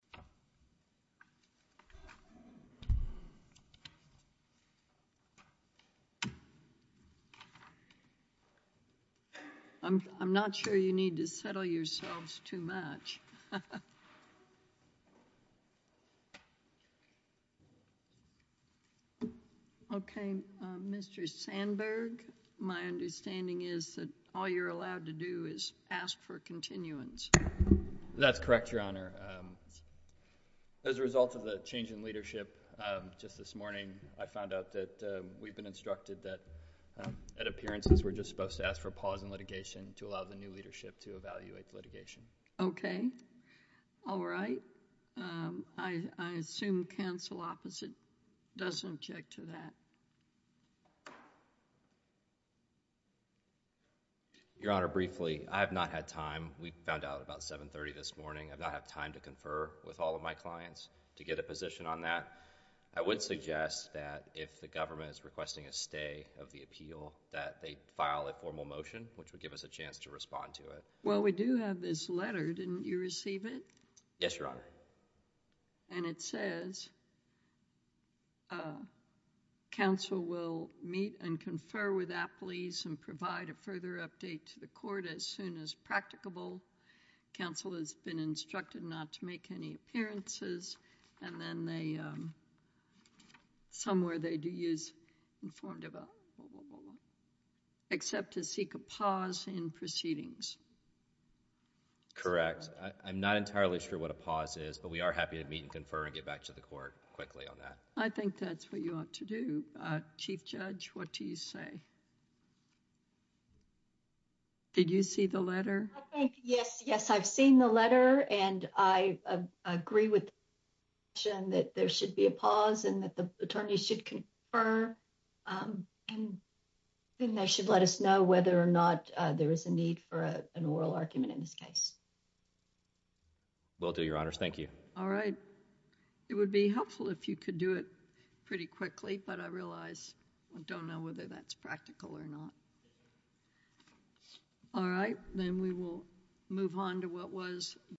I'm not sure you need to settle yourselves too much. Okay, Mr. Sandberg, my understanding is that all you're allowed to do is ask for continuance. That's correct, Your Honor. As a result of the change in leadership just this morning, I found out that we've been instructed that at appearances we're just supposed to ask for a pause in litigation to allow the new leadership to evaluate the litigation. Okay. All right. I assume counsel opposite doesn't object to that. Your Honor, briefly, I have not had time. We found out about 7.30 this morning. I've not had time to confer with all of my clients to get a position on that. I would suggest that if the government is requesting a stay of the appeal, that they file a formal motion, which would give us a chance to respond to it. Well, we do have this letter. Didn't you receive it? Yes, Your Honor. And it says, counsel will meet and confer with appellees and provide a further update to the court as soon as practicable. Counsel has been instructed not to make any appearances and then they... somewhere they do use informed... except to seek a pause in proceedings. I'm not entirely sure what a pause is, but we are happy to meet and confer and get back to the court quickly on that. I think that's what you ought to do. Chief Judge, what do you say? Did you see the letter? I think, yes. Yes, I've seen the letter and I agree with the motion that there should be a pause and that the attorneys should confer and then they should let us know whether or not there is a need for an oral argument in this case. Will do, Your Honors. Thank you. All right. It would be helpful if you could do it pretty quickly, but I realize I don't know whether that's practical or not. All right, then we will move on to what was...